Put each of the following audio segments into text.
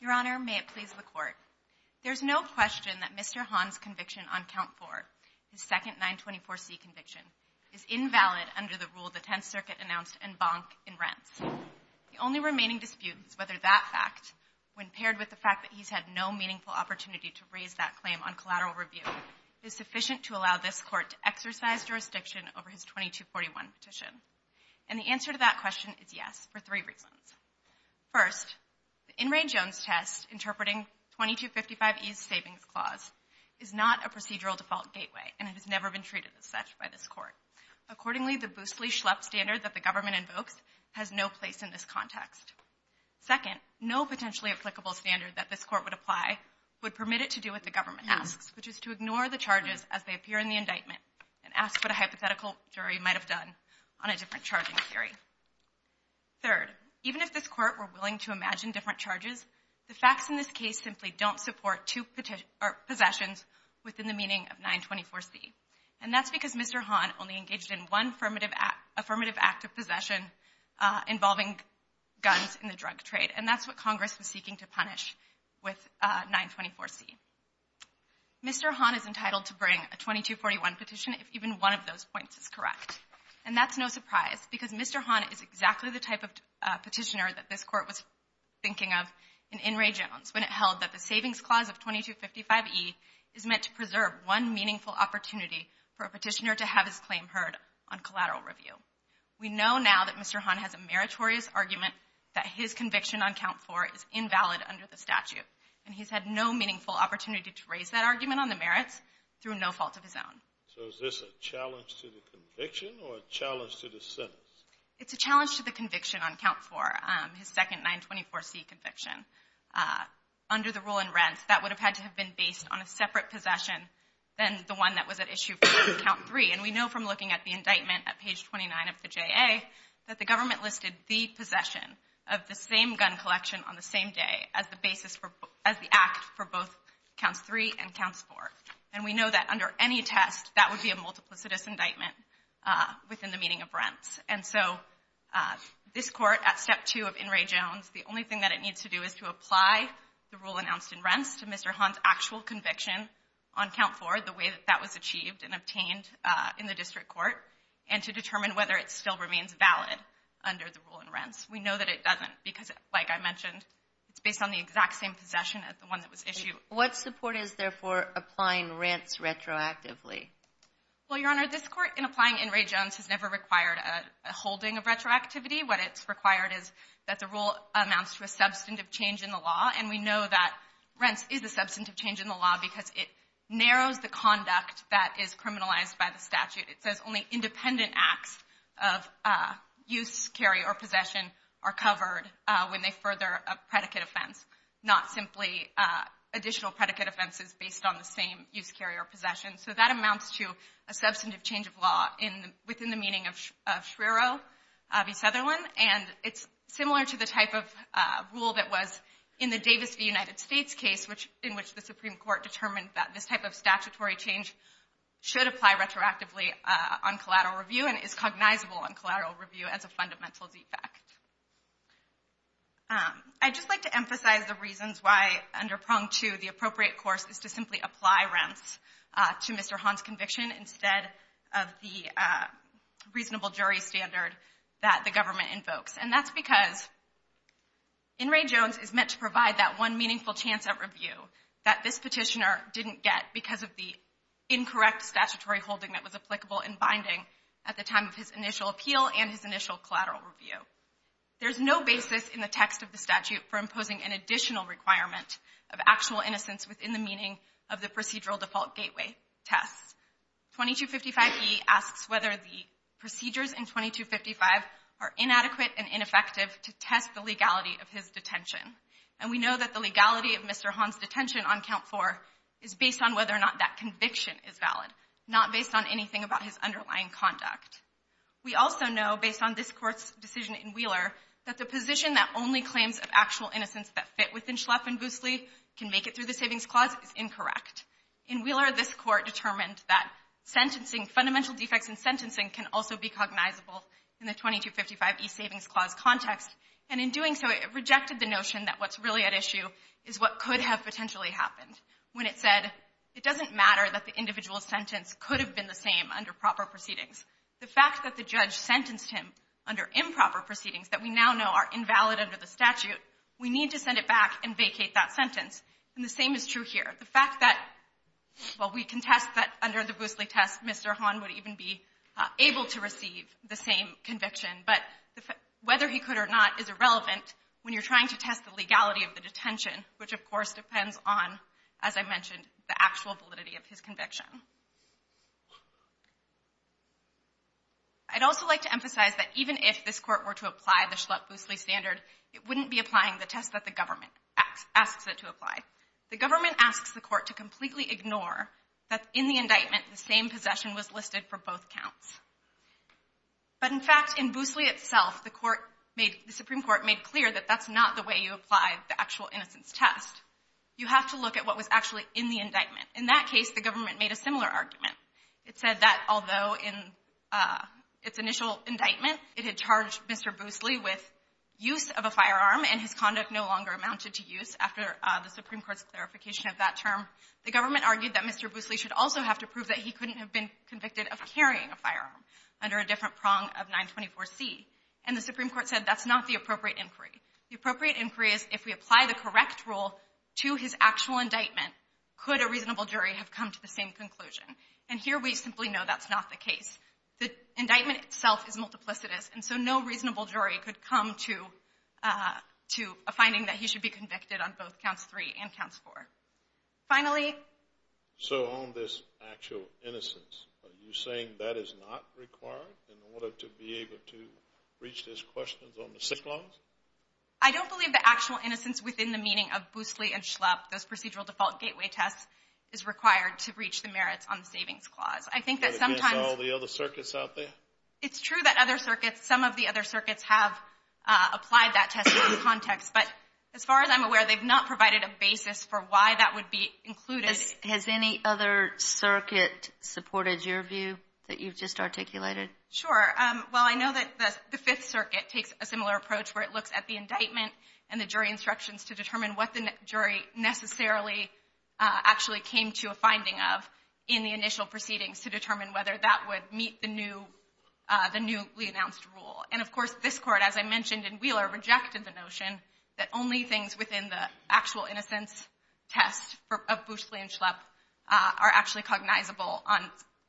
Your Honor, may it please the Court. There is no question that Mr. Hahn's conviction on Count 4, his second 924C conviction, is invalid under the rule the Tenth Circuit announced en banc in Rents. The only remaining dispute is whether that fact, when paired with the fact that he's had no meaningful opportunity to raise that claim on collateral review, is sufficient to allow this Court to exercise jurisdiction over his 2241 petition. And the answer to that question is yes, for three reasons. First, the In re Jones test interpreting 2255E's savings clause is not a procedural default gateway, and it has never been treated as such by this Court. Accordingly, the Boosley-Schlepp standard that the government invokes has no place in this context. Second, no potentially applicable standard that this Court would apply would permit it to do what the government asks, which is to ignore the charges as they appear in the indictment and ask what a hypothetical jury might have done on a different charging theory. Third, even if this Court were willing to imagine different charges, the facts in this case simply don't support two possessions within the meaning of 924C. And that's because Mr. Hahn only engaged in one affirmative act of possession involving guns in the drug trade, and that's what Congress was seeking to punish with 924C. Mr. Hahn is entitled to bring a 2241 petition if even one of those points is correct. And that's no surprise, because Mr. Hahn is exactly the type of petitioner that this Court was thinking of in In re Jones when it held that the savings clause of 2255E is meant to preserve one meaningful opportunity for a petitioner to have his claim heard on collateral review. We know now that Mr. Hahn has a meritorious argument that his conviction on count 4 is invalid under the statute, and he's had no meaningful opportunity to raise that argument on the merits through no fault of his own. So is this a challenge to the conviction or a challenge to the sentence? It's a challenge to the conviction on count 4, his second 924C conviction. Under the rule in Rents, that would have had to have been based on a separate possession than the one that was at issue for count 3. And we know from looking at the indictment at page 29 of the JA that the government listed the possession of the same gun collection on the same day as the basis for the act for both counts 3 and counts 4. And we know that under any test, that would be a multiplicitous indictment within the meaning of rents. And so this Court, at step 2 of In re Jones, the only thing that it needs to do is to apply the rule announced in Rents to Mr. Hahn's actual conviction on count 4 the way that that was achieved and obtained in the district court and to determine whether it still remains valid under the rule in Rents. We know that it doesn't because, like I mentioned, it's based on the exact same possession as the one that was issued. What support is there for applying rents retroactively? Well, Your Honor, this Court, in applying In re Jones, has never required a holding of retroactivity. What it's required is that the rule amounts to a substantive change in the law. And we know that rents is a substantive change in the law because it narrows the conduct that is criminalized by the statute. It says only independent acts of use, carry, or possession are covered when they further a predicate offense, not simply additional predicate offenses based on the same use, carry, or possession. So that amounts to a substantive change of law within the meaning of Shrero v. Sutherland. And it's similar to the type of rule that was in the Davis v. United States case in which the Supreme Court determined that this type of statutory change should apply retroactively on collateral review and is cognizable on collateral review as a fundamental defect. I'd just like to emphasize the reasons why, under Prong 2, the appropriate course is to simply apply rents to Mr. Hahn's conviction instead of the reasonable jury standard that the government invokes. And that's because In re Jones is meant to provide that one meaningful chance at review that this petitioner didn't get because of the incorrect statutory holding that was There's no basis in the text of the statute for imposing an additional requirement of actual innocence within the meaning of the procedural default gateway tests. 2255e asks whether the procedures in 2255 are inadequate and ineffective to test the legality of his detention. And we know that the legality of Mr. Hahn's detention on count 4 is based on whether or not that conviction is valid, not based on anything about his underlying conduct. We also know, based on this Court's decision in Wheeler, that the position that only claims of actual innocence that fit within Schleff and Boosley can make it through the Savings Clause is incorrect. In Wheeler, this Court determined that sentencing, fundamental defects in sentencing can also be cognizable in the 2255e Savings Clause context. And in doing so, it rejected the notion that what's really at issue is what could have potentially happened when it said it doesn't matter that the individual sentence could have been the same under proper proceedings. The fact that the judge sentenced him under improper proceedings that we now know are invalid under the statute, we need to send it back and vacate that sentence. And the same is true here. The fact that, well, we contest that under the Boosley test Mr. Hahn would even be able to receive the same conviction, but whether he could or not is irrelevant when you're trying to test the legality of the detention, which, of course, depends on, as I mentioned, the actual validity of his conviction. I'd also like to emphasize that even if this Court were to apply the Schleff-Boosley standard, it wouldn't be applying the test that the government asks it to apply. The government asks the Court to completely ignore that in the indictment, the same possession was listed for both counts. But, in fact, in Boosley itself, the Supreme Court made clear that that's not the way you apply the actual innocence test. You have to look at what was actually in the indictment. In that case, the government made a similar argument. It said that although in its initial indictment it had charged Mr. Boosley with use of a firearm and his conduct no longer amounted to use after the Supreme Court's clarification of that term, the government argued that Mr. Boosley should also have to prove that he couldn't have been convicted of carrying a firearm under a different prong of 924C. And the Supreme Court said that's not the appropriate inquiry. The appropriate inquiry is if we apply the correct rule to his actual indictment, could a reasonable jury have come to the same conclusion? And here we simply know that's not the case. The indictment itself is multiplicitous, and so no reasonable jury could come to a finding that he should be convicted on both counts 3 and counts 4. Finally? So on this actual innocence, are you saying that is not required in order to be able to reach those questions on the sick clause? I don't believe the actual innocence within the meaning of Boosley and Schlupp, those procedural default gateway tests, is required to reach the merits on the savings clause. Is that against all the other circuits out there? It's true that some of the other circuits have applied that test in that context, but as far as I'm aware, they've not provided a basis for why that would be included. Has any other circuit supported your view that you've just articulated? Sure. Well, I know that the Fifth Circuit takes a similar approach where it looks at the indictment and the jury instructions to determine what the jury necessarily actually came to a finding of in the initial proceedings to determine whether that would meet the newly announced rule. And, of course, this Court, as I mentioned in Wheeler, rejected the notion that only things within the actual innocence test of Boosley and Schlupp are actually cognizable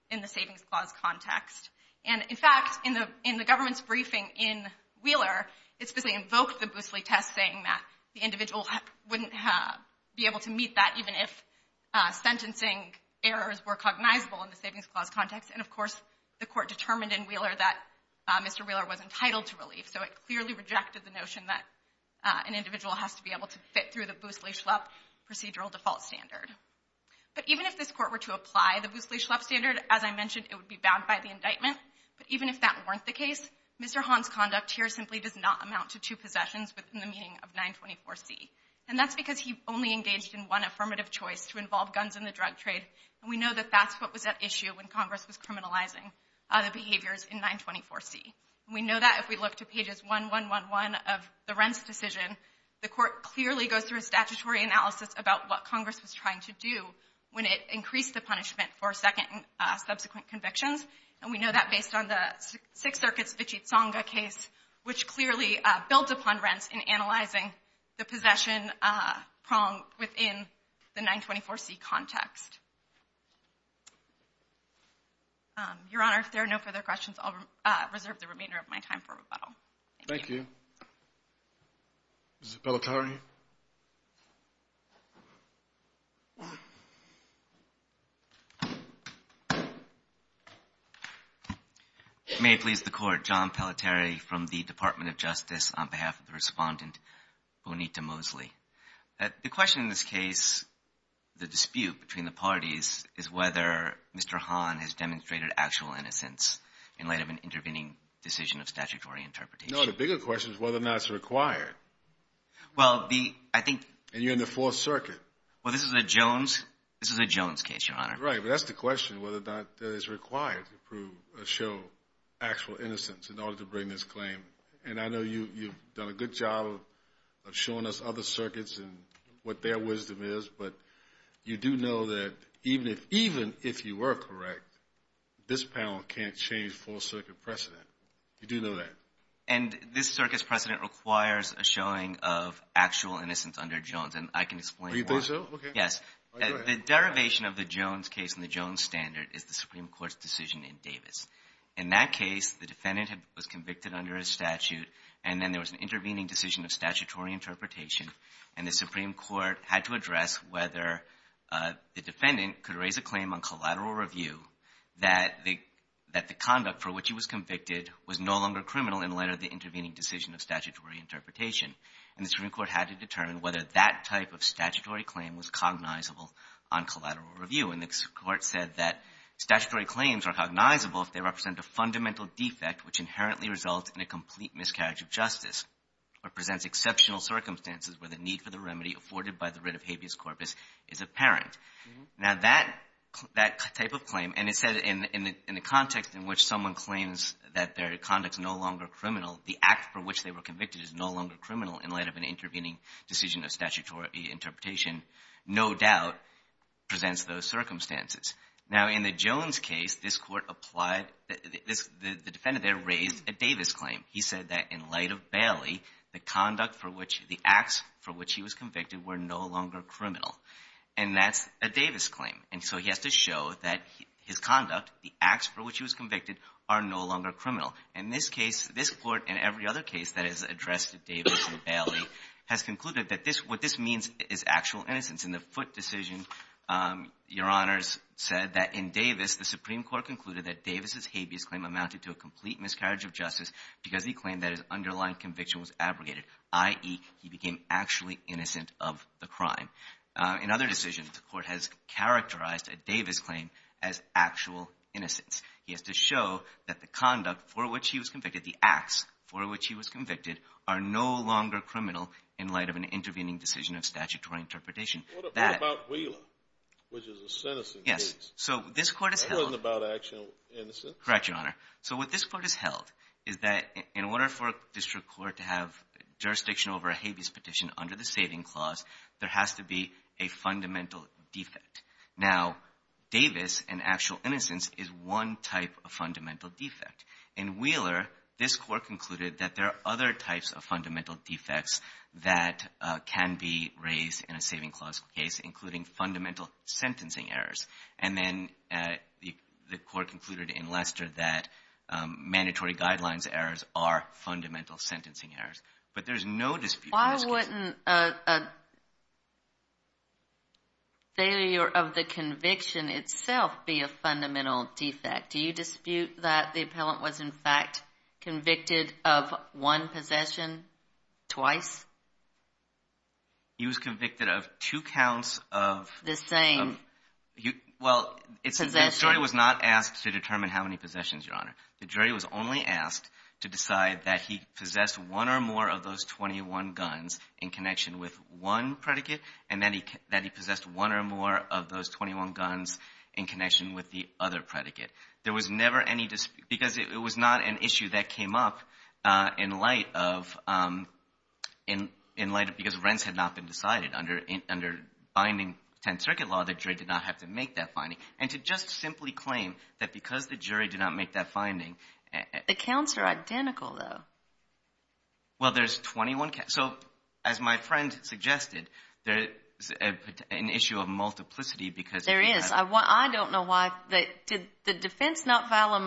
in the savings clause context. And, in fact, in the government's briefing in Wheeler, it specifically invoked the Boosley test saying that the individual wouldn't be able to meet that even if sentencing errors were cognizable in the savings clause context. And, of course, the Court determined in Wheeler that Mr. Wheeler was entitled to relief, so it clearly rejected the notion that an individual has to be able to fit through the Boosley-Schlupp procedural default standard. But even if this Court were to apply the Boosley-Schlupp standard, as I mentioned, it would be bound by the indictment. But even if that weren't the case, Mr. Hahn's conduct here simply does not amount to two possessions within the meaning of 924C. And that's because he only engaged in one affirmative choice to involve guns in the drug trade, and we know that that's what was at issue when Congress was criminalizing the behaviors in 924C. And we know that if we look to pages 1, 1, 1, 1 of the Rents decision, the Court clearly goes through a statutory analysis about what Congress was trying to do when it increased the punishment for subsequent convictions. And we know that based on the Sixth Circuit's Vichitsanga case, which clearly builds upon Rents in analyzing the possession prong within the 924C context. Your Honor, if there are no further questions, I'll reserve the remainder of my time for rebuttal. Thank you. Thank you. Mr. Pelletieri. May it please the Court. John Pelletieri from the Department of Justice on behalf of the respondent, Bonita Mosley. The question in this case, the dispute between the parties, is whether Mr. Hahn No, the bigger question is whether or not it's required. And you're in the Fourth Circuit. Well, this is a Jones case, Your Honor. Right, but that's the question, whether or not it's required to prove or show actual innocence in order to bring this claim. And I know you've done a good job of showing us other circuits and what their wisdom is, but you do know that even if you were correct, this panel can't change Fourth Circuit precedent. You do know that. And this circuit's precedent requires a showing of actual innocence under Jones, and I can explain why. Oh, you think so? Okay. Yes. The derivation of the Jones case and the Jones standard is the Supreme Court's decision in Davis. In that case, the defendant was convicted under a statute, and then there was an intervening decision of statutory interpretation, and the Supreme Court had to address whether the defendant could raise a claim on collateral review that the defendant was no longer criminal in light of the intervening decision of statutory interpretation. And the Supreme Court had to determine whether that type of statutory claim was cognizable on collateral review. And the Court said that statutory claims are cognizable if they represent a fundamental defect which inherently results in a complete miscarriage of justice or presents exceptional circumstances where the need for the remedy afforded by the writ of habeas corpus is apparent. Now, that type of claim, and it said in the context in which someone claims that their conduct is no longer criminal, the act for which they were convicted is no longer criminal in light of an intervening decision of statutory interpretation, no doubt presents those circumstances. Now, in the Jones case, this Court applied the defendant there raised a Davis claim. He said that in light of Bailey, the conduct for which the acts for which he was convicted were no longer criminal, and that's a Davis claim. And so he has to show that his conduct, the acts for which he was convicted, are no longer criminal. In this case, this Court and every other case that has addressed Davis and Bailey has concluded that this what this means is actual innocence. In the Foote decision, Your Honors said that in Davis, the Supreme Court concluded that Davis' habeas claim amounted to a complete miscarriage of justice because he claimed that his underlying conviction was abrogated, i.e., he became actually innocent of the crime. In other decisions, the Court has characterized a Davis claim as actual innocence. He has to show that the conduct for which he was convicted, the acts for which he was convicted, are no longer criminal in light of an intervening decision of statutory interpretation. That — What about Wheeler, which is a sentencing case? Yes. So this Court has held — That wasn't about actual innocence. Correct, Your Honor. So what this Court has held is that in order for a district court to have jurisdiction over a habeas petition under the saving clause, there has to be a fundamental defect. Now, Davis and actual innocence is one type of fundamental defect. In Wheeler, this Court concluded that there are other types of fundamental defects that can be raised in a saving clause case, including fundamental sentencing errors. And then the Court concluded in Lester that mandatory guidelines errors are fundamental sentencing errors. But there's no dispute in this case. Wouldn't a failure of the conviction itself be a fundamental defect? Do you dispute that the appellant was, in fact, convicted of one possession twice? He was convicted of two counts of — The same possession? Well, the jury was not asked to determine how many possessions, Your Honor. The jury was only asked to decide that he possessed one or more of those 21 guns in connection with one predicate and that he possessed one or more of those 21 guns in connection with the other predicate. There was never any dispute because it was not an issue that came up in light of — because rents had not been decided. Under binding 10th Circuit law, the jury did not have to make that finding. And to just simply claim that because the jury did not make that finding — The counts are identical, though. Well, there's 21 counts. So as my friend suggested, there's an issue of multiplicity because — There is. I don't know why — did the defense not file a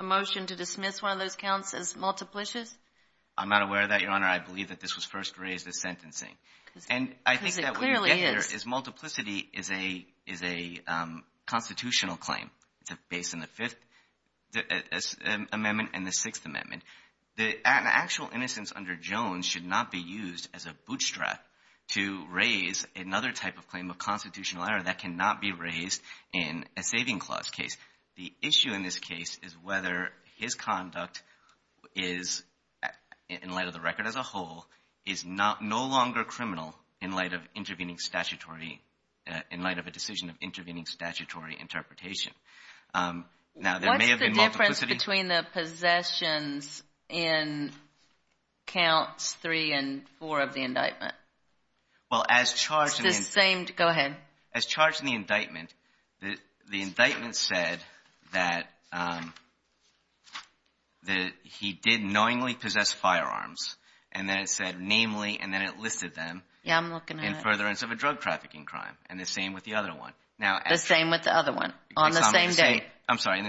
motion to dismiss one of those counts as multiplicious? I'm not aware of that, Your Honor. I believe that this was first raised as sentencing. Because it clearly is. And I think that what you get here is multiplicity is a constitutional claim based on the Fifth Amendment and the Sixth Amendment. The actual innocence under Jones should not be used as a bootstrap to raise another type of claim of constitutional error that cannot be raised in a saving clause case. The issue in this case is whether his conduct is, in light of the record as a whole, is no longer criminal in light of intervening statutory — in light of a Now, there may have been multiplicity — What's the difference between the possessions in counts three and four of the indictment? Well, as charged — It's the same — go ahead. As charged in the indictment, the indictment said that he did knowingly possess firearms. And then it said, namely — and then it listed them — Yeah, I'm looking at it. — in furtherance of a drug trafficking crime. And the same with the other one. The same with the other one. On the same date. I'm sorry. In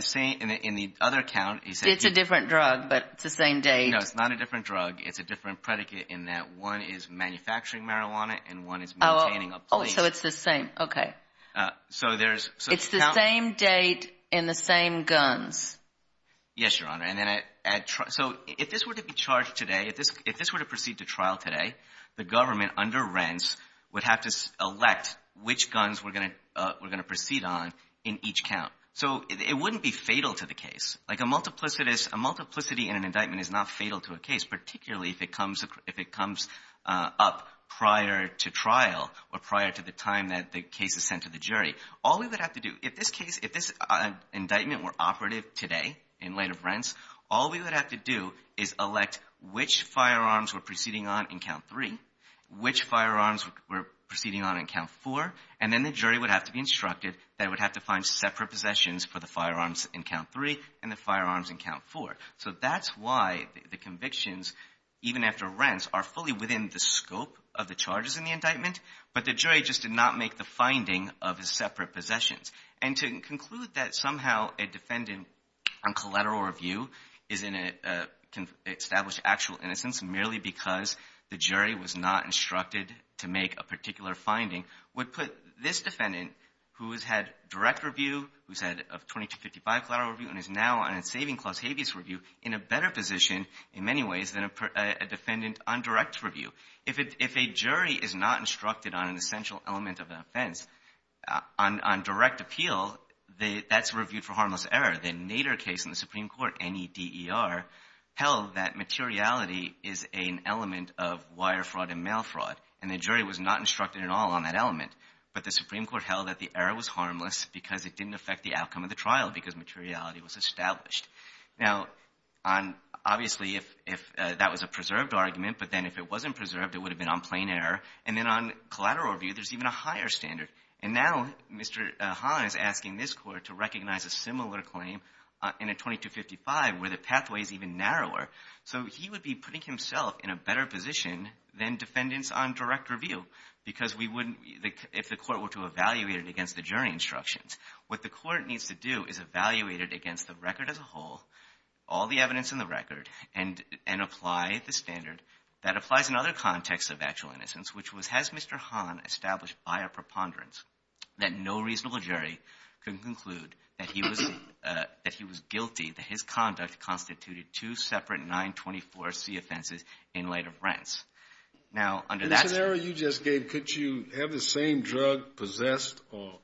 the other count, he said — It's a different drug, but it's the same date. No, it's not a different drug. It's a different predicate in that one is manufacturing marijuana and one is maintaining a plea. Oh, so it's the same. Okay. So there's — It's the same date in the same guns. Yes, Your Honor. And then at — so if this were to be charged today, if this were to proceed to trial today, the government under Rents would have to elect which guns we're going to proceed on in each count. So it wouldn't be fatal to the case. Like, a multiplicity in an indictment is not fatal to a case, particularly if it comes up prior to trial or prior to the time that the case is sent to the jury. All we would have to do — if this case — if this indictment were operative today in light of Rents, all we would have to do is elect which firearms we're proceeding on in count three, which firearms we're proceeding on in count four, and then the jury would have to be instructed that it would have to find separate possessions for the firearms in count three and the firearms in count four. So that's why the convictions, even after Rents, are fully within the scope of the charges in the indictment, but the jury just did not make the finding of the separate possessions. And to conclude that somehow a defendant on collateral review is in a — can establish actual innocence merely because the jury was not instructed to make a claim. So this defendant, who has had direct review, who's had a 2255 collateral review, and is now on a saving-clause habeas review, in a better position in many ways than a defendant on direct review. If a jury is not instructed on an essential element of an offense on direct appeal, that's reviewed for harmless error. The Nader case in the Supreme Court, N-E-D-E-R, held that materiality is an element of wire fraud and mail fraud, and the jury was not instructed at all on that element, but the Supreme Court held that the error was harmless because it didn't affect the outcome of the trial because materiality was established. Now, on — obviously, if that was a preserved argument, but then if it wasn't preserved, it would have been on plain error. And then on collateral review, there's even a higher standard. And now Mr. Hahn is asking this Court to recognize a similar claim in a 2255 where the pathway is even narrower. So he would be putting himself in a better position than defendants on direct review because we wouldn't — if the Court were to evaluate it against the jury instructions, what the Court needs to do is evaluate it against the record as a whole, all the evidence in the record, and apply the standard that applies in other contexts of actual innocence, which was, has Mr. Hahn established by a preponderance that no reasonable jury can conclude that he was — that he was guilty, that his conduct constituted two separate 924C offenses in light of rents? Now, under that narrow you just gave, could you have the same drug possessed or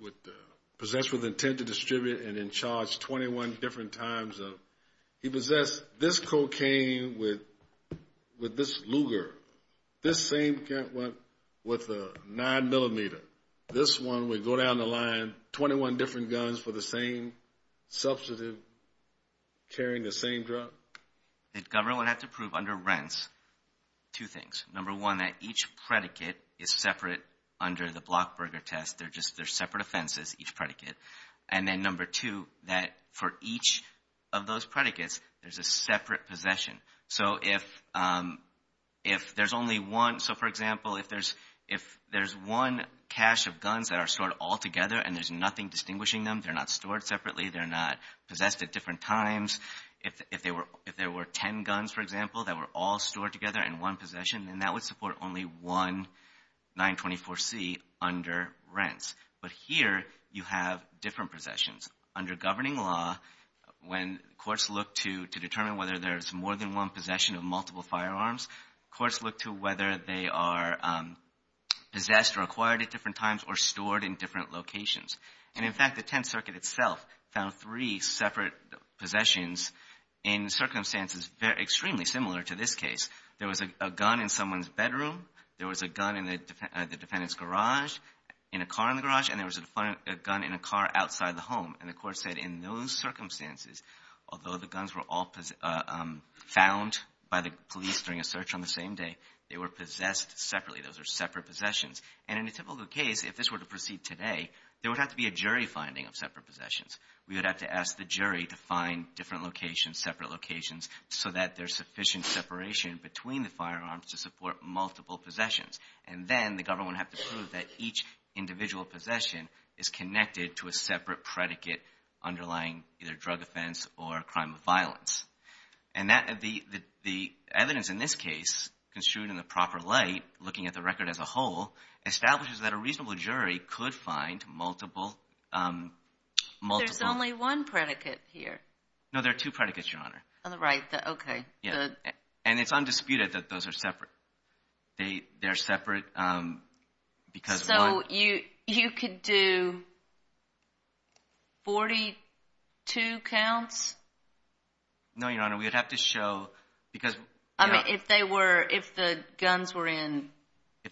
with — possessed with intent to distribute and in charge 21 different times of — he possessed this cocaine with this Luger, this same gun with a 9-millimeter. This one would go down the line, 21 different guns for the same substantive, carrying the same drug? The government would have to prove under rents two things. Number one, that each predicate is separate under the Blockberger test. They're just — they're separate offenses, each predicate. And then number two, that for each of those predicates, there's a separate possession. So if there's only one — so, for example, if there's one cache of guns that are stored all together and there's nothing distinguishing them, they're not stored at different times. If they were — if there were 10 guns, for example, that were all stored together in one possession, then that would support only one 924C under rents. But here you have different possessions. Under governing law, when courts look to determine whether there's more than one possession of multiple firearms, courts look to whether they are possessed or acquired at different times or stored in different locations. And, in fact, the Tenth Circuit itself found three separate possessions in circumstances extremely similar to this case. There was a gun in someone's bedroom. There was a gun in the defendant's garage — in a car in the garage. And there was a gun in a car outside the home. And the court said in those circumstances, although the guns were all found by the police during a search on the same day, they were possessed separately. Those are separate possessions. And in a typical case, if this were to proceed today, there would have to be a jury finding of separate possessions. We would have to ask the jury to find different locations, separate locations, so that there's sufficient separation between the firearms to support multiple possessions. And then the government would have to prove that each individual possession is connected to a separate predicate underlying either drug offense or a crime of violence. And that — the evidence in this case, construed in the proper light, looking at the record as a whole, establishes that a reasonable jury could find multiple — There's only one predicate here. No, there are two predicates, Your Honor. Oh, right. Okay. And it's undisputed that those are separate. They're separate because — So you could do 42 counts? No, Your Honor. We would have to show — I mean, if they were — if the guns were in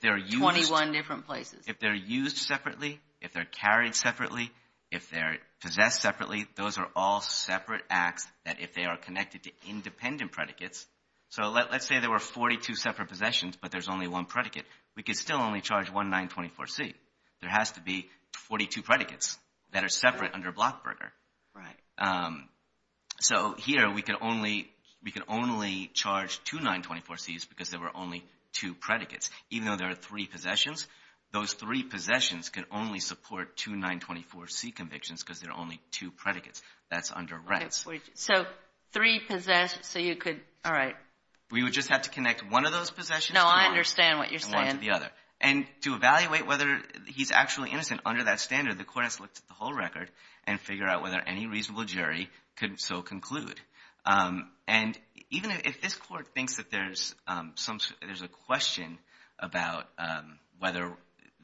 21 different places. If they're used separately, if they're carried separately, if they're possessed separately, those are all separate acts that if they are connected to independent predicates — so let's say there were 42 separate possessions, but there's only one predicate. We could still only charge 1924C. There has to be 42 predicates that are separate under Blockburger. Right. So here, we could only charge 2924Cs because there were only two predicates. Even though there are three possessions, those three possessions could only support two 924C convictions because there are only two predicates. That's under rents. So three possess — so you could — all right. We would just have to connect one of those possessions to one — No, I understand what you're saying. — and one to the other. And to evaluate whether he's actually innocent under that standard, the court has to look at the whole record and figure out whether any reasonable jury could so conclude. And even if this court thinks that there's a question about whether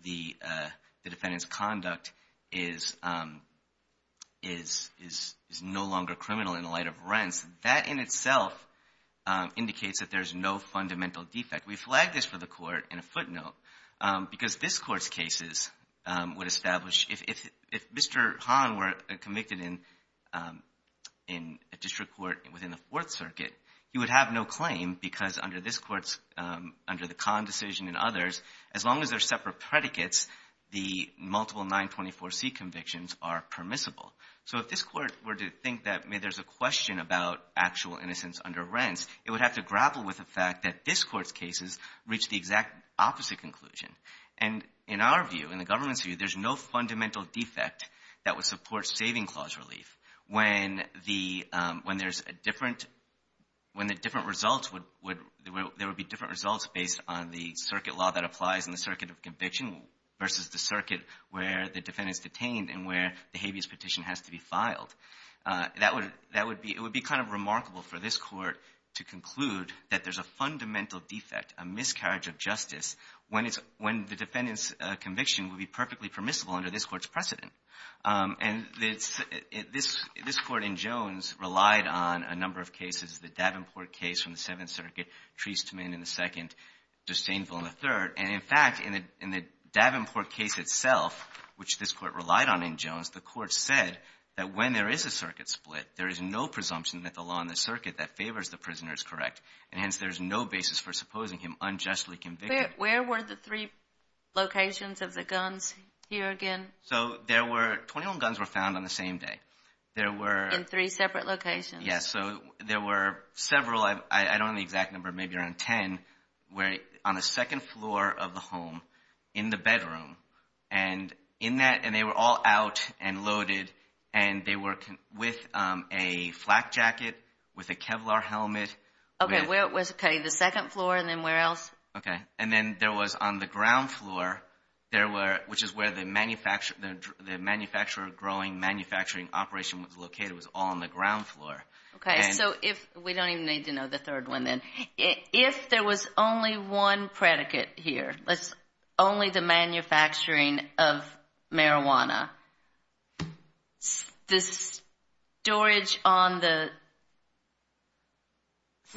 the defendant's conduct is no longer criminal in the light of rents, that in itself indicates that there's no fundamental defect. We flagged this for the court in a footnote because this court's cases would establish if Mr. Hahn were convicted in a district court within the Fourth Circuit, he would have no claim because under this court's — under the Kahn decision and others, as long as there are separate predicates, the multiple 924C convictions are permissible. So if this court were to think that, may, there's a question about actual innocence under rents, it would have to grapple with the fact that this court's cases reach the exact opposite conclusion. And in our view, in the government's view, there's no fundamental defect that would support saving clause relief when the — when there's a different — when the different results would — there would be different results based on the circuit law that applies in the circuit of conviction versus the circuit where the defendant's detained and where the habeas petition has to be filed. That would — that would be — it would be kind of remarkable for this court to conviction would be perfectly permissible under this court's precedent. And this — this court in Jones relied on a number of cases, the Davenport case from the Seventh Circuit, Treastman in the second, Dostainville in the third. And in fact, in the — in the Davenport case itself, which this court relied on in Jones, the court said that when there is a circuit split, there is no presumption that the law in the circuit that favors the prisoner is correct, and hence there is no basis for supposing him unjustly convicted. Where were the three locations of the guns here again? So there were — 21 guns were found on the same day. There were — In three separate locations. Yes. So there were several — I don't know the exact number, maybe around 10 — were on the second floor of the home in the bedroom. And in that — and they were all out and loaded. And they were with a flak jacket, with a Kevlar helmet. Okay. Where was — okay, the second floor and then where else? Okay. And then there was on the ground floor, there were — which is where the manufacturer — the manufacturer growing manufacturing operation was located, was all on the ground floor. Okay. So if — we don't even need to know the third one then. If there was only one predicate here, let's — only the manufacturing of marijuana, the storage on the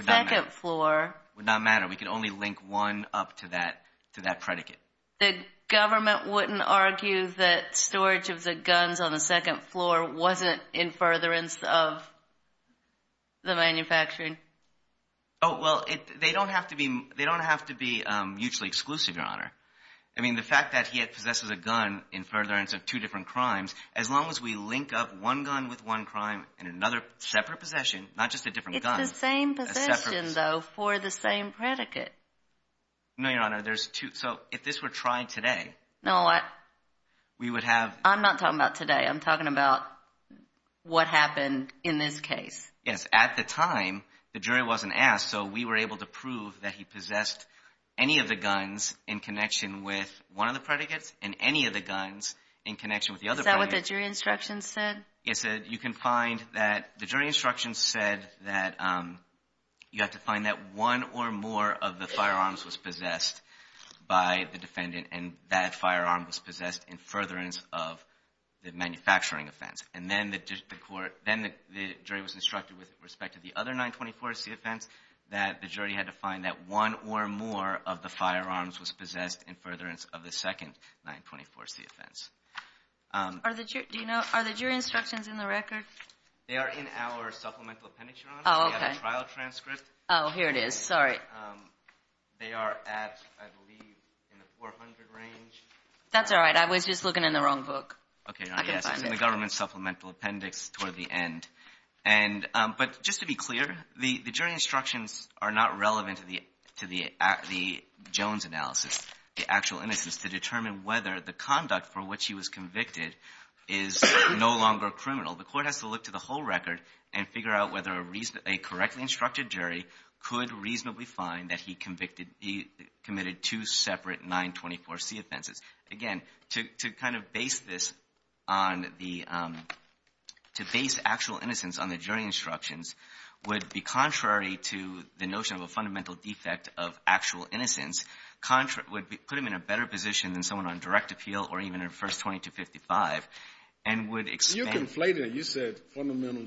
second floor — Would not matter. We could only link one up to that predicate. The government wouldn't argue that storage of the guns on the second floor wasn't in furtherance of the manufacturing? Oh, well, they don't have to be mutually exclusive, Your Honor. I mean, the fact that he possesses a gun in furtherance of two different crimes, as long as we link up one gun with one crime in another separate possession, not just a different gun — No, Your Honor. There's two — so if this were tried today — No, what? We would have — I'm not talking about today. I'm talking about what happened in this case. Yes. At the time, the jury wasn't asked, so we were able to prove that he possessed any of the guns in connection with one of the predicates and any of the guns in connection with the other predicates. Is that what the jury instructions said? Yes, it — you can find that — the jury instructions said that you have to find that one or more of the firearms was possessed by the defendant, and that firearm was possessed in furtherance of the manufacturing offense. And then the court — then the jury was instructed with respect to the other 924C offense that the jury had to find that one or more of the firearms was possessed in furtherance of the second 924C offense. Are the — do you know — are the jury instructions in the record? Oh, okay. They have a trial transcript. Oh, here it is. Sorry. They are at, I believe, in the 400 range. That's all right. I was just looking in the wrong book. Okay, not yet. I can find it. It's in the government supplemental appendix toward the end. And — but just to be clear, the jury instructions are not relevant to the Jones analysis, the actual innocence, to determine whether the conduct for which he was convicted is no longer criminal. The court has to look to the whole record and figure out whether a reasonably — a correctly instructed jury could reasonably find that he convicted — he committed two separate 924C offenses. Again, to kind of base this on the — to base actual innocence on the jury instructions would be contrary to the notion of a fundamental defect of actual innocence, contrary — would put him in a better position than someone on direct appeal or even in First 20 to 55 and would expand — You're conflating it. You said fundamental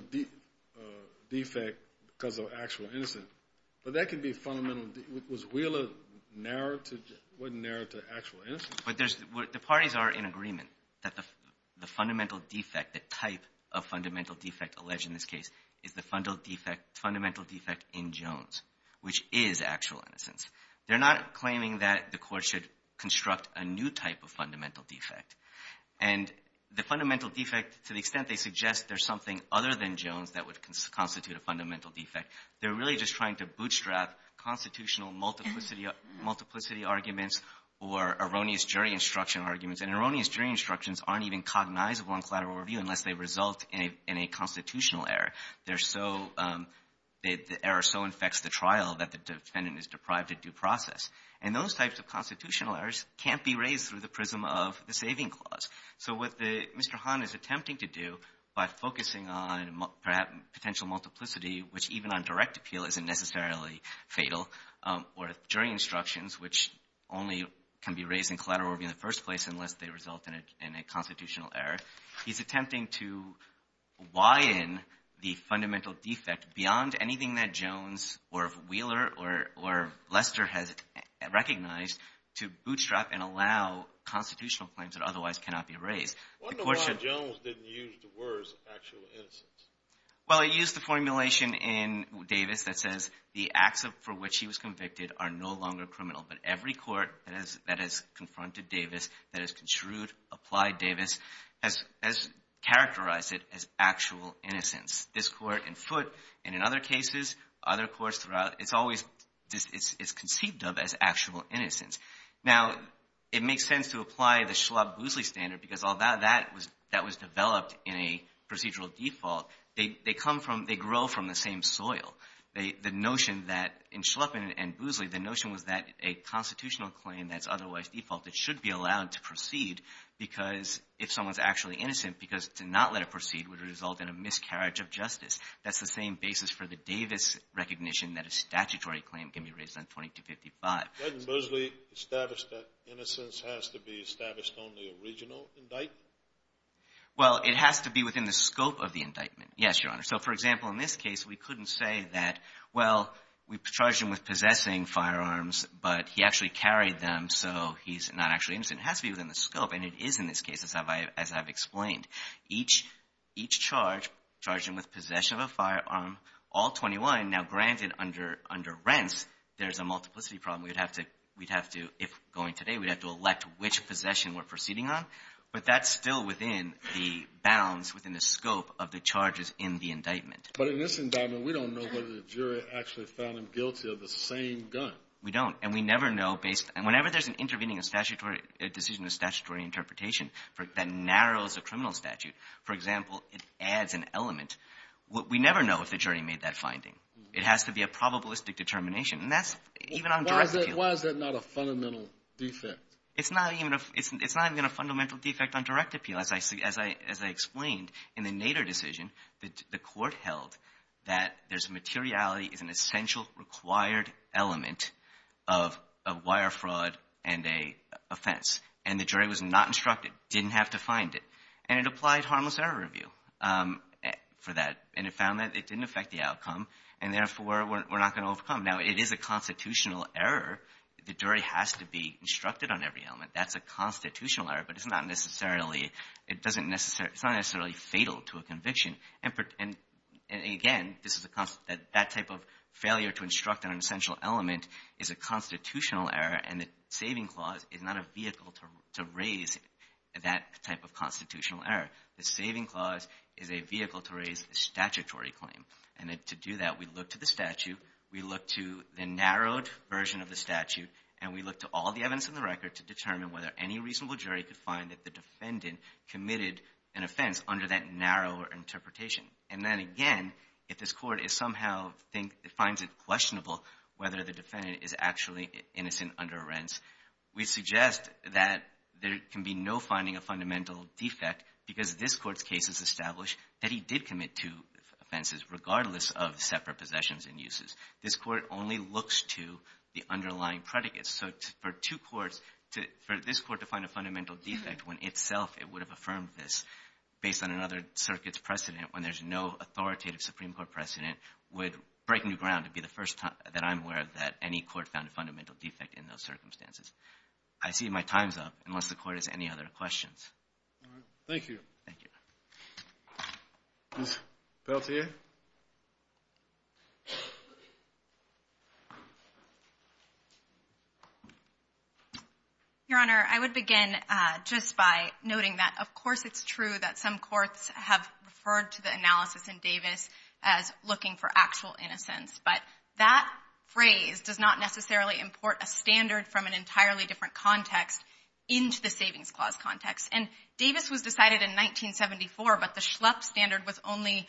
defect because of actual innocence. But that could be fundamental — was Wheeler narrowed to — wasn't narrowed to actual innocence? But there's — the parties are in agreement that the fundamental defect, the type of fundamental defect alleged in this case is the fundamental defect in Jones, which is actual innocence. They're not claiming that the court should construct a new type of fundamental defect. And the fundamental defect, to the extent they suggest there's something other than Jones that would constitute a fundamental defect, they're really just trying to bootstrap constitutional multiplicity arguments or erroneous jury instruction arguments. And erroneous jury instructions aren't even cognizable in collateral review unless they result in a constitutional error. They're so — the error so infects the trial that the defendant is deprived of due process. And those types of constitutional errors can't be raised through the prism of the saving clause. So what Mr. Hahn is attempting to do by focusing on, perhaps, potential multiplicity, which even on direct appeal isn't necessarily fatal, or jury instructions, which only can be raised in collateral review in the first place unless they result in a constitutional error, he's attempting to widen the fundamental defect beyond anything that Jones or Wheeler or Lester has recognized to bootstrap and allow constitutional claims that otherwise cannot be raised. The court should — I wonder why Jones didn't use the words actual innocence. Well, he used the formulation in Davis that says the acts for which he was convicted are no longer criminal. But every court that has confronted Davis, that has construed, applied Davis, has characterized it as actual innocence. This court in Foote, and in other cases, other courts throughout, it's always — it's conceived of as actual innocence. Now, it makes sense to apply the Schlupp-Boozley standard because although that was developed in a procedural default, they come from — they grow from the same soil. The notion that — in Schlupp and Boozley, the notion was that a constitutional claim that's otherwise defaulted should be allowed to proceed because if someone's actually innocent, because to not let it proceed would result in a miscarriage of justice. That's the same basis for the Davis recognition that a statutory claim can be raised on 2255. Doesn't Boozley establish that innocence has to be established on the original indictment? Well, it has to be within the scope of the indictment. Yes, Your Honor. So, for example, in this case, we couldn't say that, well, we charged him with possessing firearms, but he actually carried them, so he's not actually innocent. It has to be within the scope, and it is in this case, as I've explained. Each charge charged him with possession of a firearm, all 21. Now, granted, under rents, there's a multiplicity problem. We'd have to — if going today, we'd have to elect which possession we're proceeding on, but that's still within the bounds, within the scope of the charges in the indictment. But in this indictment, we don't know whether the jury actually found him guilty of the same gun. We don't, and we never know based — whenever there's an intervening decision of statutory interpretation that narrows a criminal statute, for example, it adds an element. We never know if the jury made that finding. It has to be a probabilistic determination, and that's even on direct appeal. Why is that not a fundamental defect? It's not even a fundamental defect on direct appeal. As I explained, in the Nader decision, the court held that there's materiality is an essential required element of wire fraud and a offense, and the jury was not instructed, didn't have to find it. And it applied harmless error review for that, and it found that it didn't affect the outcome, and therefore, we're not going to overcome. Now, it is a constitutional error. The jury has to be instructed on every element. That's a constitutional error, but it's not necessarily — it doesn't necessarily — it's not necessarily fatal to a conviction. And, again, this is a — that type of failure to instruct on an essential element is a constitutional error, and the saving clause is not a vehicle to raise that type of constitutional error. The saving clause is a vehicle to raise a statutory claim. And to do that, we look to the statute, we look to the narrowed version of the statute, and we look to all the evidence in the record to determine whether any reasonable jury could find that the defendant committed an offense under that narrower interpretation. And then, again, if this court is somehow — finds it questionable whether the defendant is actually innocent under arrents, we suggest that there can be no finding a fundamental defect because this court's case has established that he did commit two offenses, regardless of separate possessions and uses. This court only looks to the underlying predicates. So for two courts — for this court to find a fundamental defect when itself it would have affirmed this based on another circuit's precedent when there's no authoritative Supreme Court precedent would break new ground. It would be the first time that I'm aware that any court found a fundamental defect in those circumstances. I see my time's up, unless the Court has any other questions. All right. Thank you. Thank you. Ms. Peltier? Your Honor, I would begin just by noting that, of course, it's true that some courts have referred to the analysis in Davis as looking for actual innocence. But that phrase does not necessarily import a standard from an entirely different context into the Savings Clause context. And Davis was decided in 1974, but the Schlupp standard was only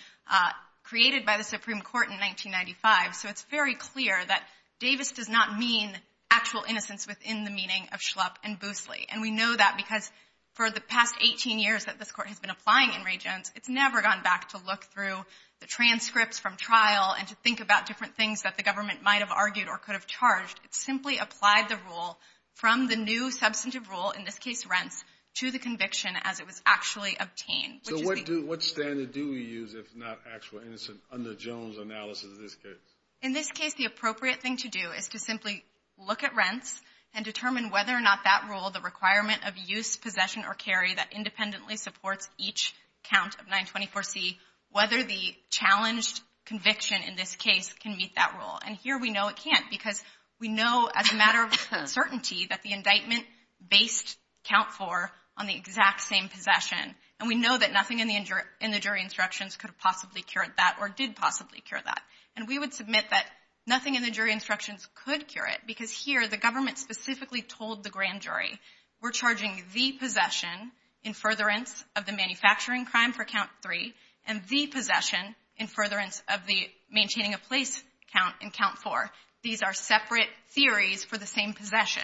created by the Supreme Court in 1995. So it's very clear that Davis does not mean actual innocence within the meaning of Schlupp and Boosley. And we know that because for the past 18 years that this court has been applying in Ray Jones, it's never gone back to look through the transcripts from trial and to think about different things that the government might have argued or could have charged. It simply applied the rule from the new substantive rule, in this case rents, to the conviction as it was actually obtained. So what standard do we use if not actual innocence under Jones' analysis in this case? In this case, the appropriate thing to do is to simply look at rents and determine whether or not that rule, the requirement of use, possession, or carry that independently supports each count of 924C, whether the challenged conviction in this case can meet that rule. And here we know it can't because we know as a matter of certainty that the exact same possession. And we know that nothing in the jury instructions could possibly cure that or did possibly cure that. And we would submit that nothing in the jury instructions could cure it because here the government specifically told the grand jury, we're charging the possession in furtherance of the manufacturing crime for count three and the possession in furtherance of the maintaining a place count in count four. These are separate theories for the same possession.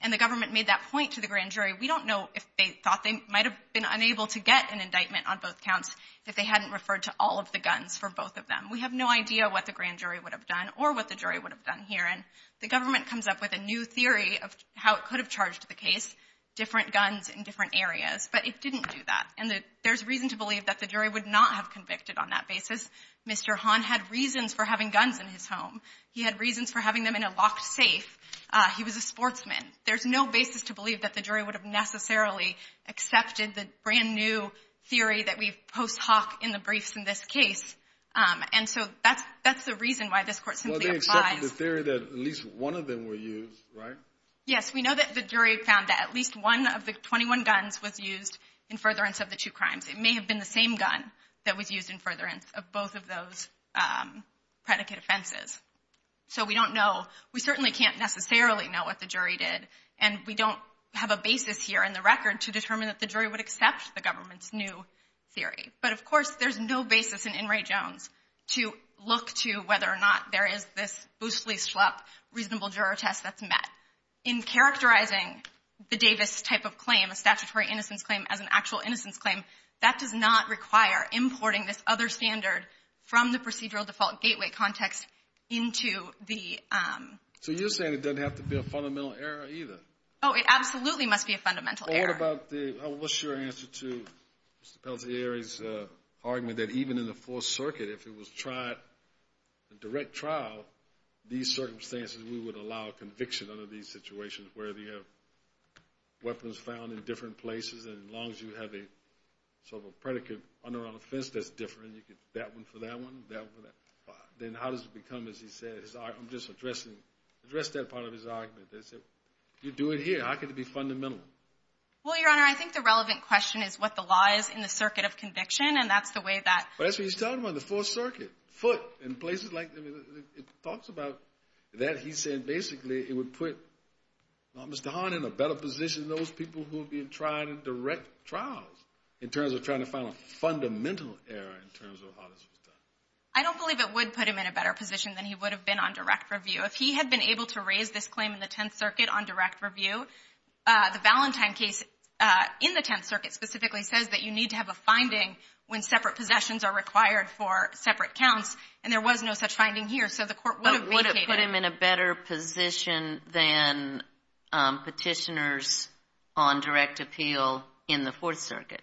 And the government made that point to the grand jury. We don't know if they thought they might have been unable to get an indictment on both counts if they hadn't referred to all of the guns for both of them. We have no idea what the grand jury would have done or what the jury would have done here. And the government comes up with a new theory of how it could have charged the case, different guns in different areas. But it didn't do that. And there's reason to believe that the jury would not have convicted on that basis. Mr. Hahn had reasons for having guns in his home. He had reasons for having them in a locked safe. He was a sportsman. There's no basis to believe that the jury would have necessarily accepted the brand new theory that we post hoc in the briefs in this case. And so that's the reason why this court simply applies. Well, they accepted the theory that at least one of them were used, right? Yes. We know that the jury found that at least one of the 21 guns was used in furtherance of the two crimes. It may have been the same gun that was used in furtherance of both of those predicate offenses. So we don't know. We certainly can't necessarily know what the jury did. And we don't have a basis here in the record to determine that the jury would accept the government's new theory. But, of course, there's no basis in In re Jones to look to whether or not there is this Boosley-Schlupp reasonable juror test that's met. In characterizing the Davis type of claim, a statutory innocence claim, as an actual innocence claim, that does not require importing this other standard from the procedural default gateway context into the. So you're saying it doesn't have to be a fundamental error either? Oh, it absolutely must be a fundamental error. Well, what's your answer to Mr. Pelletieri's argument that even in the Fourth Circuit, if it was a direct trial, these circumstances, we would allow conviction under these situations where you have weapons found in different places. And as long as you have a sort of a predicate on or around a fence that's different, that one for that one, that one for that one, then how does it become, as he said, I'm just addressing, address that part of his argument. You do it here. How can it be fundamental? Well, Your Honor, I think the relevant question is what the law is in the circuit of conviction. And that's the way that. That's what he's talking about in the Fourth Circuit. Foot. In places like. It talks about that. He's saying basically it would put Mr. Hahn in a better position than those people who are being tried in direct trials in terms of trying to find a I don't believe it would put him in a better position than he would have been on direct review. If he had been able to raise this claim in the Tenth Circuit on direct review, the Valentine case in the Tenth Circuit specifically says that you need to have a finding when separate possessions are required for separate counts. And there was no such finding here. So the court would have put him in a better position than petitioners on direct appeal in the Fourth Circuit.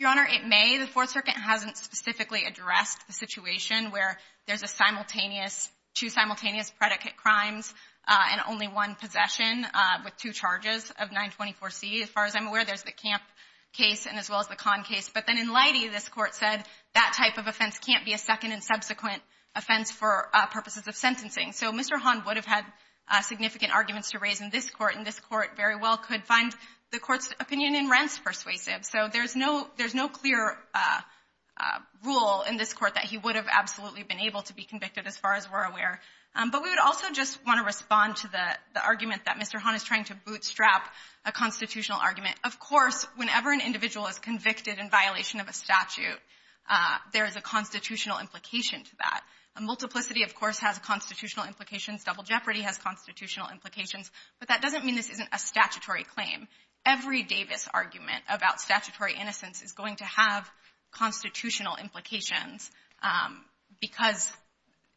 Your Honor, it may. The Fourth Circuit hasn't specifically addressed the situation where there's a simultaneous two simultaneous predicate crimes and only one possession with two charges of 924 C. As far as I'm aware, there's the camp case and as well as the con case. But then in Leidy, this court said that type of offense can't be a second and subsequent offense for purposes of sentencing. So Mr. Hahn would have had significant arguments to raise in this court. And this court very well could find the court's opinion in rents persuasive. So there's no clear rule in this court that he would have absolutely been able to be convicted as far as we're aware. But we would also just want to respond to the argument that Mr. Hahn is trying to bootstrap a constitutional argument. Of course, whenever an individual is convicted in violation of a statute, there is a constitutional implication to that. A multiplicity, of course, has constitutional implications. Double jeopardy has constitutional implications. But that doesn't mean this isn't a statutory claim. Every Davis argument about statutory innocence is going to have constitutional implications. Because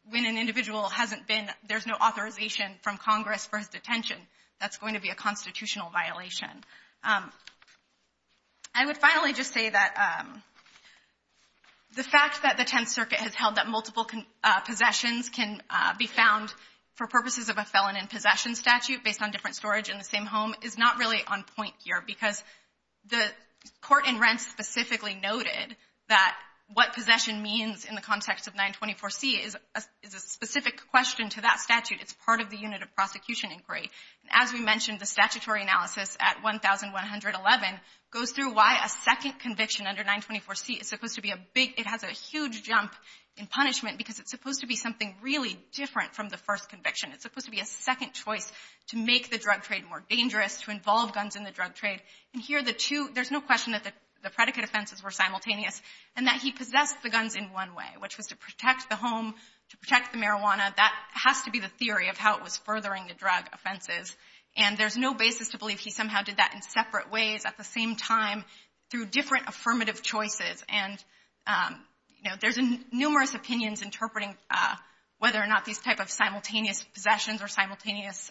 when an individual hasn't been, there's no authorization from Congress for his detention, that's going to be a constitutional violation. I would finally just say that the fact that the Tenth Circuit has held that multiple possessions can be found for purposes of a felon in possession statute based on different is not really on point here because the court in rents specifically noted that what possession means in the context of 924C is a specific question to that statute. It's part of the unit of prosecution inquiry. And as we mentioned, the statutory analysis at 1111 goes through why a second conviction under 924C is supposed to be a big, it has a huge jump in punishment because it's supposed to be something really different from the first conviction. It's supposed to be a second choice to make the drug trade more dangerous, to involve guns in the drug trade. And here the two, there's no question that the predicate offenses were simultaneous and that he possessed the guns in one way, which was to protect the home, to protect the marijuana. That has to be the theory of how it was furthering the drug offenses. And there's no basis to believe he somehow did that in separate ways at the same time through different affirmative choices. And, you know, there's numerous opinions interpreting whether or not these type of simultaneous possessions or simultaneous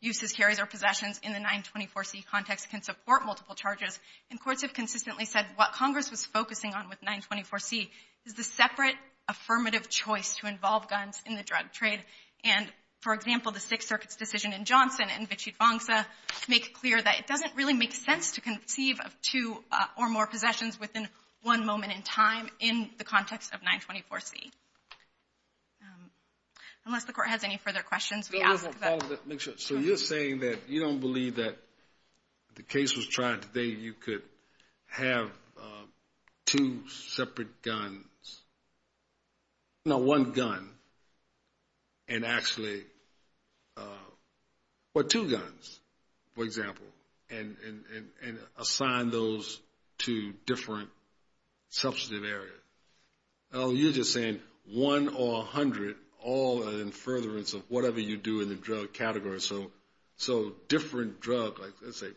uses, carries, or possessions in the 924C context can support multiple charges. And courts have consistently said what Congress was focusing on with 924C is the separate affirmative choice to involve guns in the drug trade. And, for example, the Sixth Circuit's decision in Johnson and Vichit Vongsa make clear that it doesn't really make sense to conceive of two or more possessions within one moment in time in the context of 924C. Unless the court has any further questions, we ask that. So you're saying that you don't believe that the case was tried today you could have two separate guns, no, one gun, and actually, or two guns, for example, and assign those to different substantive areas. Oh, you're just saying one or a hundred, all in furtherance of whatever you do in the drug category. So different drug, like let's say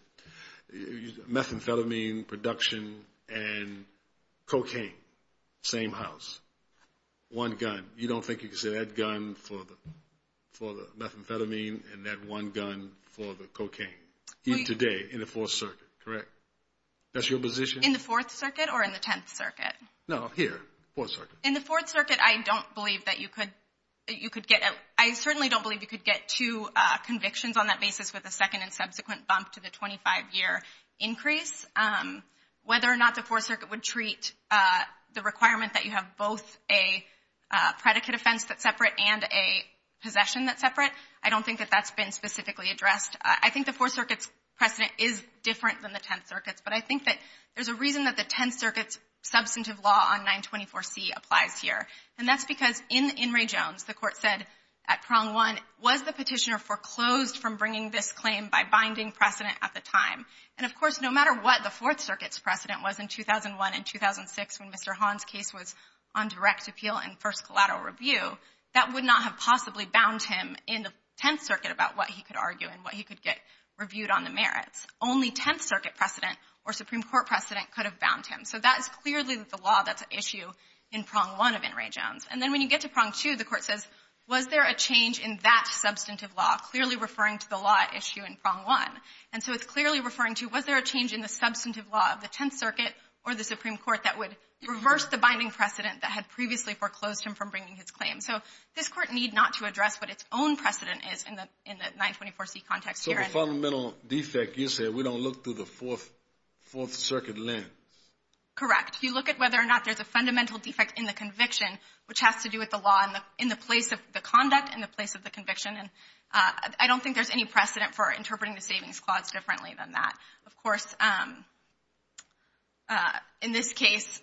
methamphetamine production and cocaine, same house, one gun. You don't think you could say that gun for the methamphetamine and that one gun for the cocaine, even today in the Fourth Circuit, correct? That's your position? In the Fourth Circuit or in the Tenth Circuit? No, here. Fourth Circuit. In the Fourth Circuit, I don't believe that you could get, I certainly don't believe you could get two convictions on that basis with a second and subsequent bump to the 25-year increase. Whether or not the Fourth Circuit would treat the requirement that you have both a predicate offense that's separate and a possession that's separate, I don't think that that's been specifically addressed. I think the Fourth Circuit's precedent is different than the Tenth Circuit's, but I think that there's a reason that the Tenth Circuit's substantive law on 924C applies here, and that's because in Ray Jones, the court said at prong one, was the petitioner foreclosed from bringing this claim by binding precedent at the time? And of course, no matter what the Fourth Circuit's precedent was in 2001 and 2006 when Mr. Hahn's case was on direct appeal and first collateral review, that would not have possibly bound him in the Tenth Circuit about what he could argue and what he could get reviewed on the merits. Only Tenth Circuit precedent or Supreme Court precedent could have bound him. So that is clearly the law that's at issue in prong one of N. Ray Jones. And then when you get to prong two, the court says, was there a change in that substantive law, clearly referring to the law at issue in prong one? And so it's clearly referring to, was there a change in the substantive law of the Tenth Circuit or the Supreme Court that would reverse the binding precedent that had previously foreclosed him from bringing his claim? So this Court need not to address what its own precedent is in the 924C context The fundamental defect you said, we don't look through the Fourth Circuit lens. Correct. You look at whether or not there's a fundamental defect in the conviction, which has to do with the law in the place of the conduct and the place of the conviction. And I don't think there's any precedent for interpreting the Savings Clause differently than that. Of course, in this case,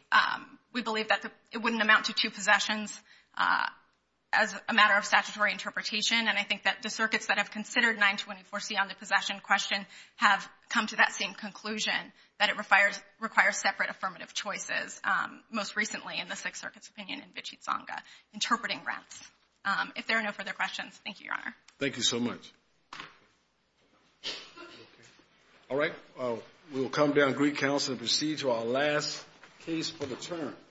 we believe that it wouldn't amount to two possessions as a matter of statutory interpretation. And I think that the circuits that have considered 924C on the possession question have come to that same conclusion, that it requires separate affirmative choices, most recently in the Sixth Circuit's opinion in Vichit Sangha, interpreting rents. If there are no further questions, thank you, Your Honor. Thank you so much. All right. We'll come down to Greek Council and proceed to our last case for the term.